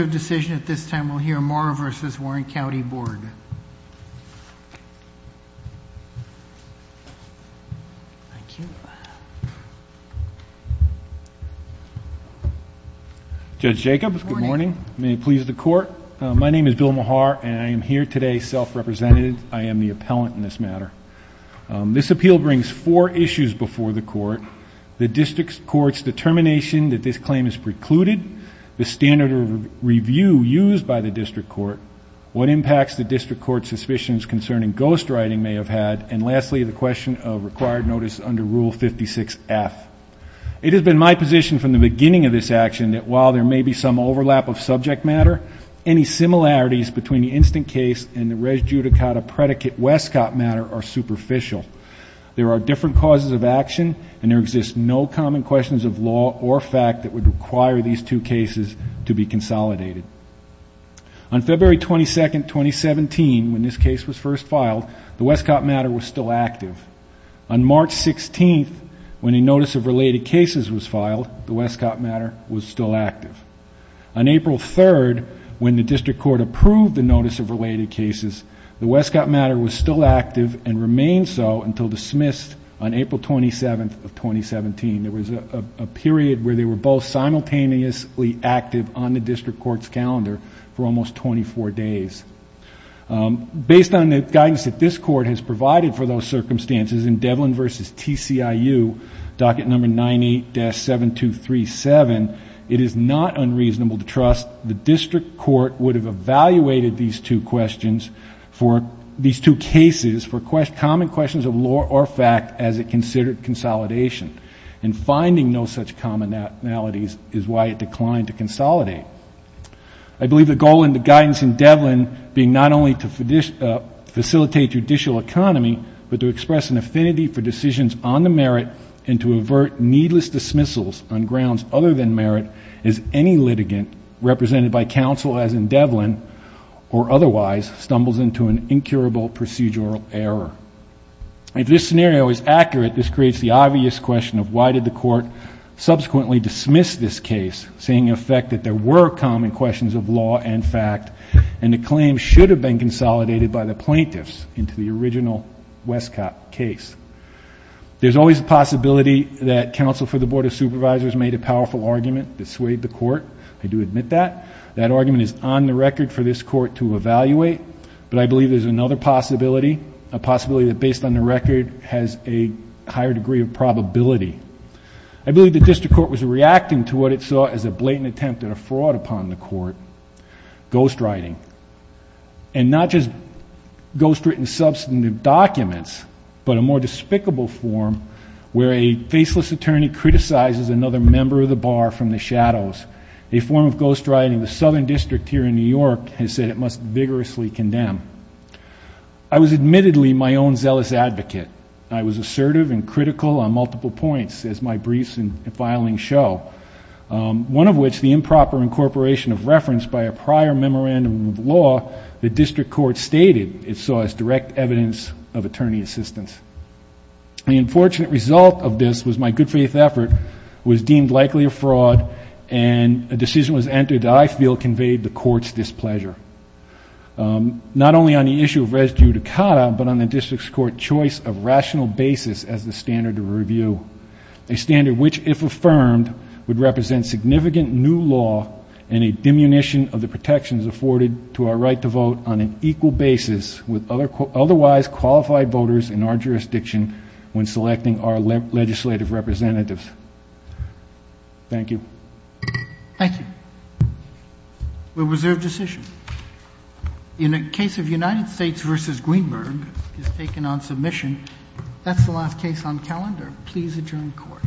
of Decision. At this time, we'll hear more versus Warren County Board. Thank you. Judge Jacobs. Good morning. May it please the court. My name is Bill Mahar and I am here today. Self represented. I am the appellant in this matter. This appeal brings four issues before the court. The district court's determination that this claim is precluded. The standard of review used by the district court. What impacts the district court's suspicions concerning ghostwriting may have had. And lastly, the question of required notice under Rule 56F. It has been my position from the beginning of this action that while there may be some overlap of subject matter, any similarities between the instant case and the res judicata predicate Westcott matter are superficial. There are different causes of action and there exists no common questions of law or fact that would require these two cases to be consolidated. On February 22nd, 2017, when this case was first filed, the Westcott matter was still active. On March 16th, when a notice of related cases was filed, the Westcott matter was still active. On April 3rd, when the district court approved the notice of related cases, the Westcott matter was still active and remained so until it was dismissed on April 27th of 2017. There was a period where they were both simultaneously active on the district court's calendar for almost 24 days. Based on the guidance that this court has provided for those circumstances in Devlin versus TCIU, docket number 98-7237, it is not unreasonable to trust the district court would have evaluated these two questions for these two cases for common questions of law or fact as it considered consolidation. And finding no such commonalities is why it declined to consolidate. I believe the goal and the guidance in Devlin being not only to facilitate judicial economy, but to express an affinity for decisions on the merit and to avert needless dismissals on grounds other than merit as any litigant represented by counsel as in Devlin or otherwise stumbles into an incurable procedural error. If this scenario is accurate, this creates the obvious question of why did the court subsequently dismiss this case, saying in effect that there were common questions of law and fact and the claim should have been consolidated by the plaintiffs into the original Westcott case. There's always a possibility that counsel for the Board of Supervisors made a powerful argument that swayed the court. I do admit that. That argument is on the record for this court to evaluate, but I believe there's another possibility, a possibility that based on the record has a higher degree of probability. I believe the district court was reacting to what it saw as a blatant attempt at a fraud upon the court, ghostwriting. And not just ghostwritten substantive documents, but a more despicable form where a faceless attorney criticizes another member of the bar from the shadows. A form of ghostwriting in the Southern District here in New York has said it must vigorously condemn. I was admittedly my own zealous advocate. I was assertive and critical on multiple points as my briefs and filing show, one of which the improper incorporation of reference by a prior memorandum of law the district court stated it saw as direct evidence of attorney assistance. The unfortunate result of this was my good faith effort was deemed likely a fraud and a decision was entered I feel conveyed the court's displeasure. Not only on the issue of res judicata, but on the district's court choice of rational basis as the standard of review. A standard which if affirmed would represent significant new law and a diminution of the protections afforded to our right to vote on an equal basis with other otherwise qualified voters in our jurisdiction when selecting our legislative representatives. Thank you. Thank you. We reserve decision in a case of United States versus Greenberg is taken on submission. That's the last case on calendar. Please adjourn court.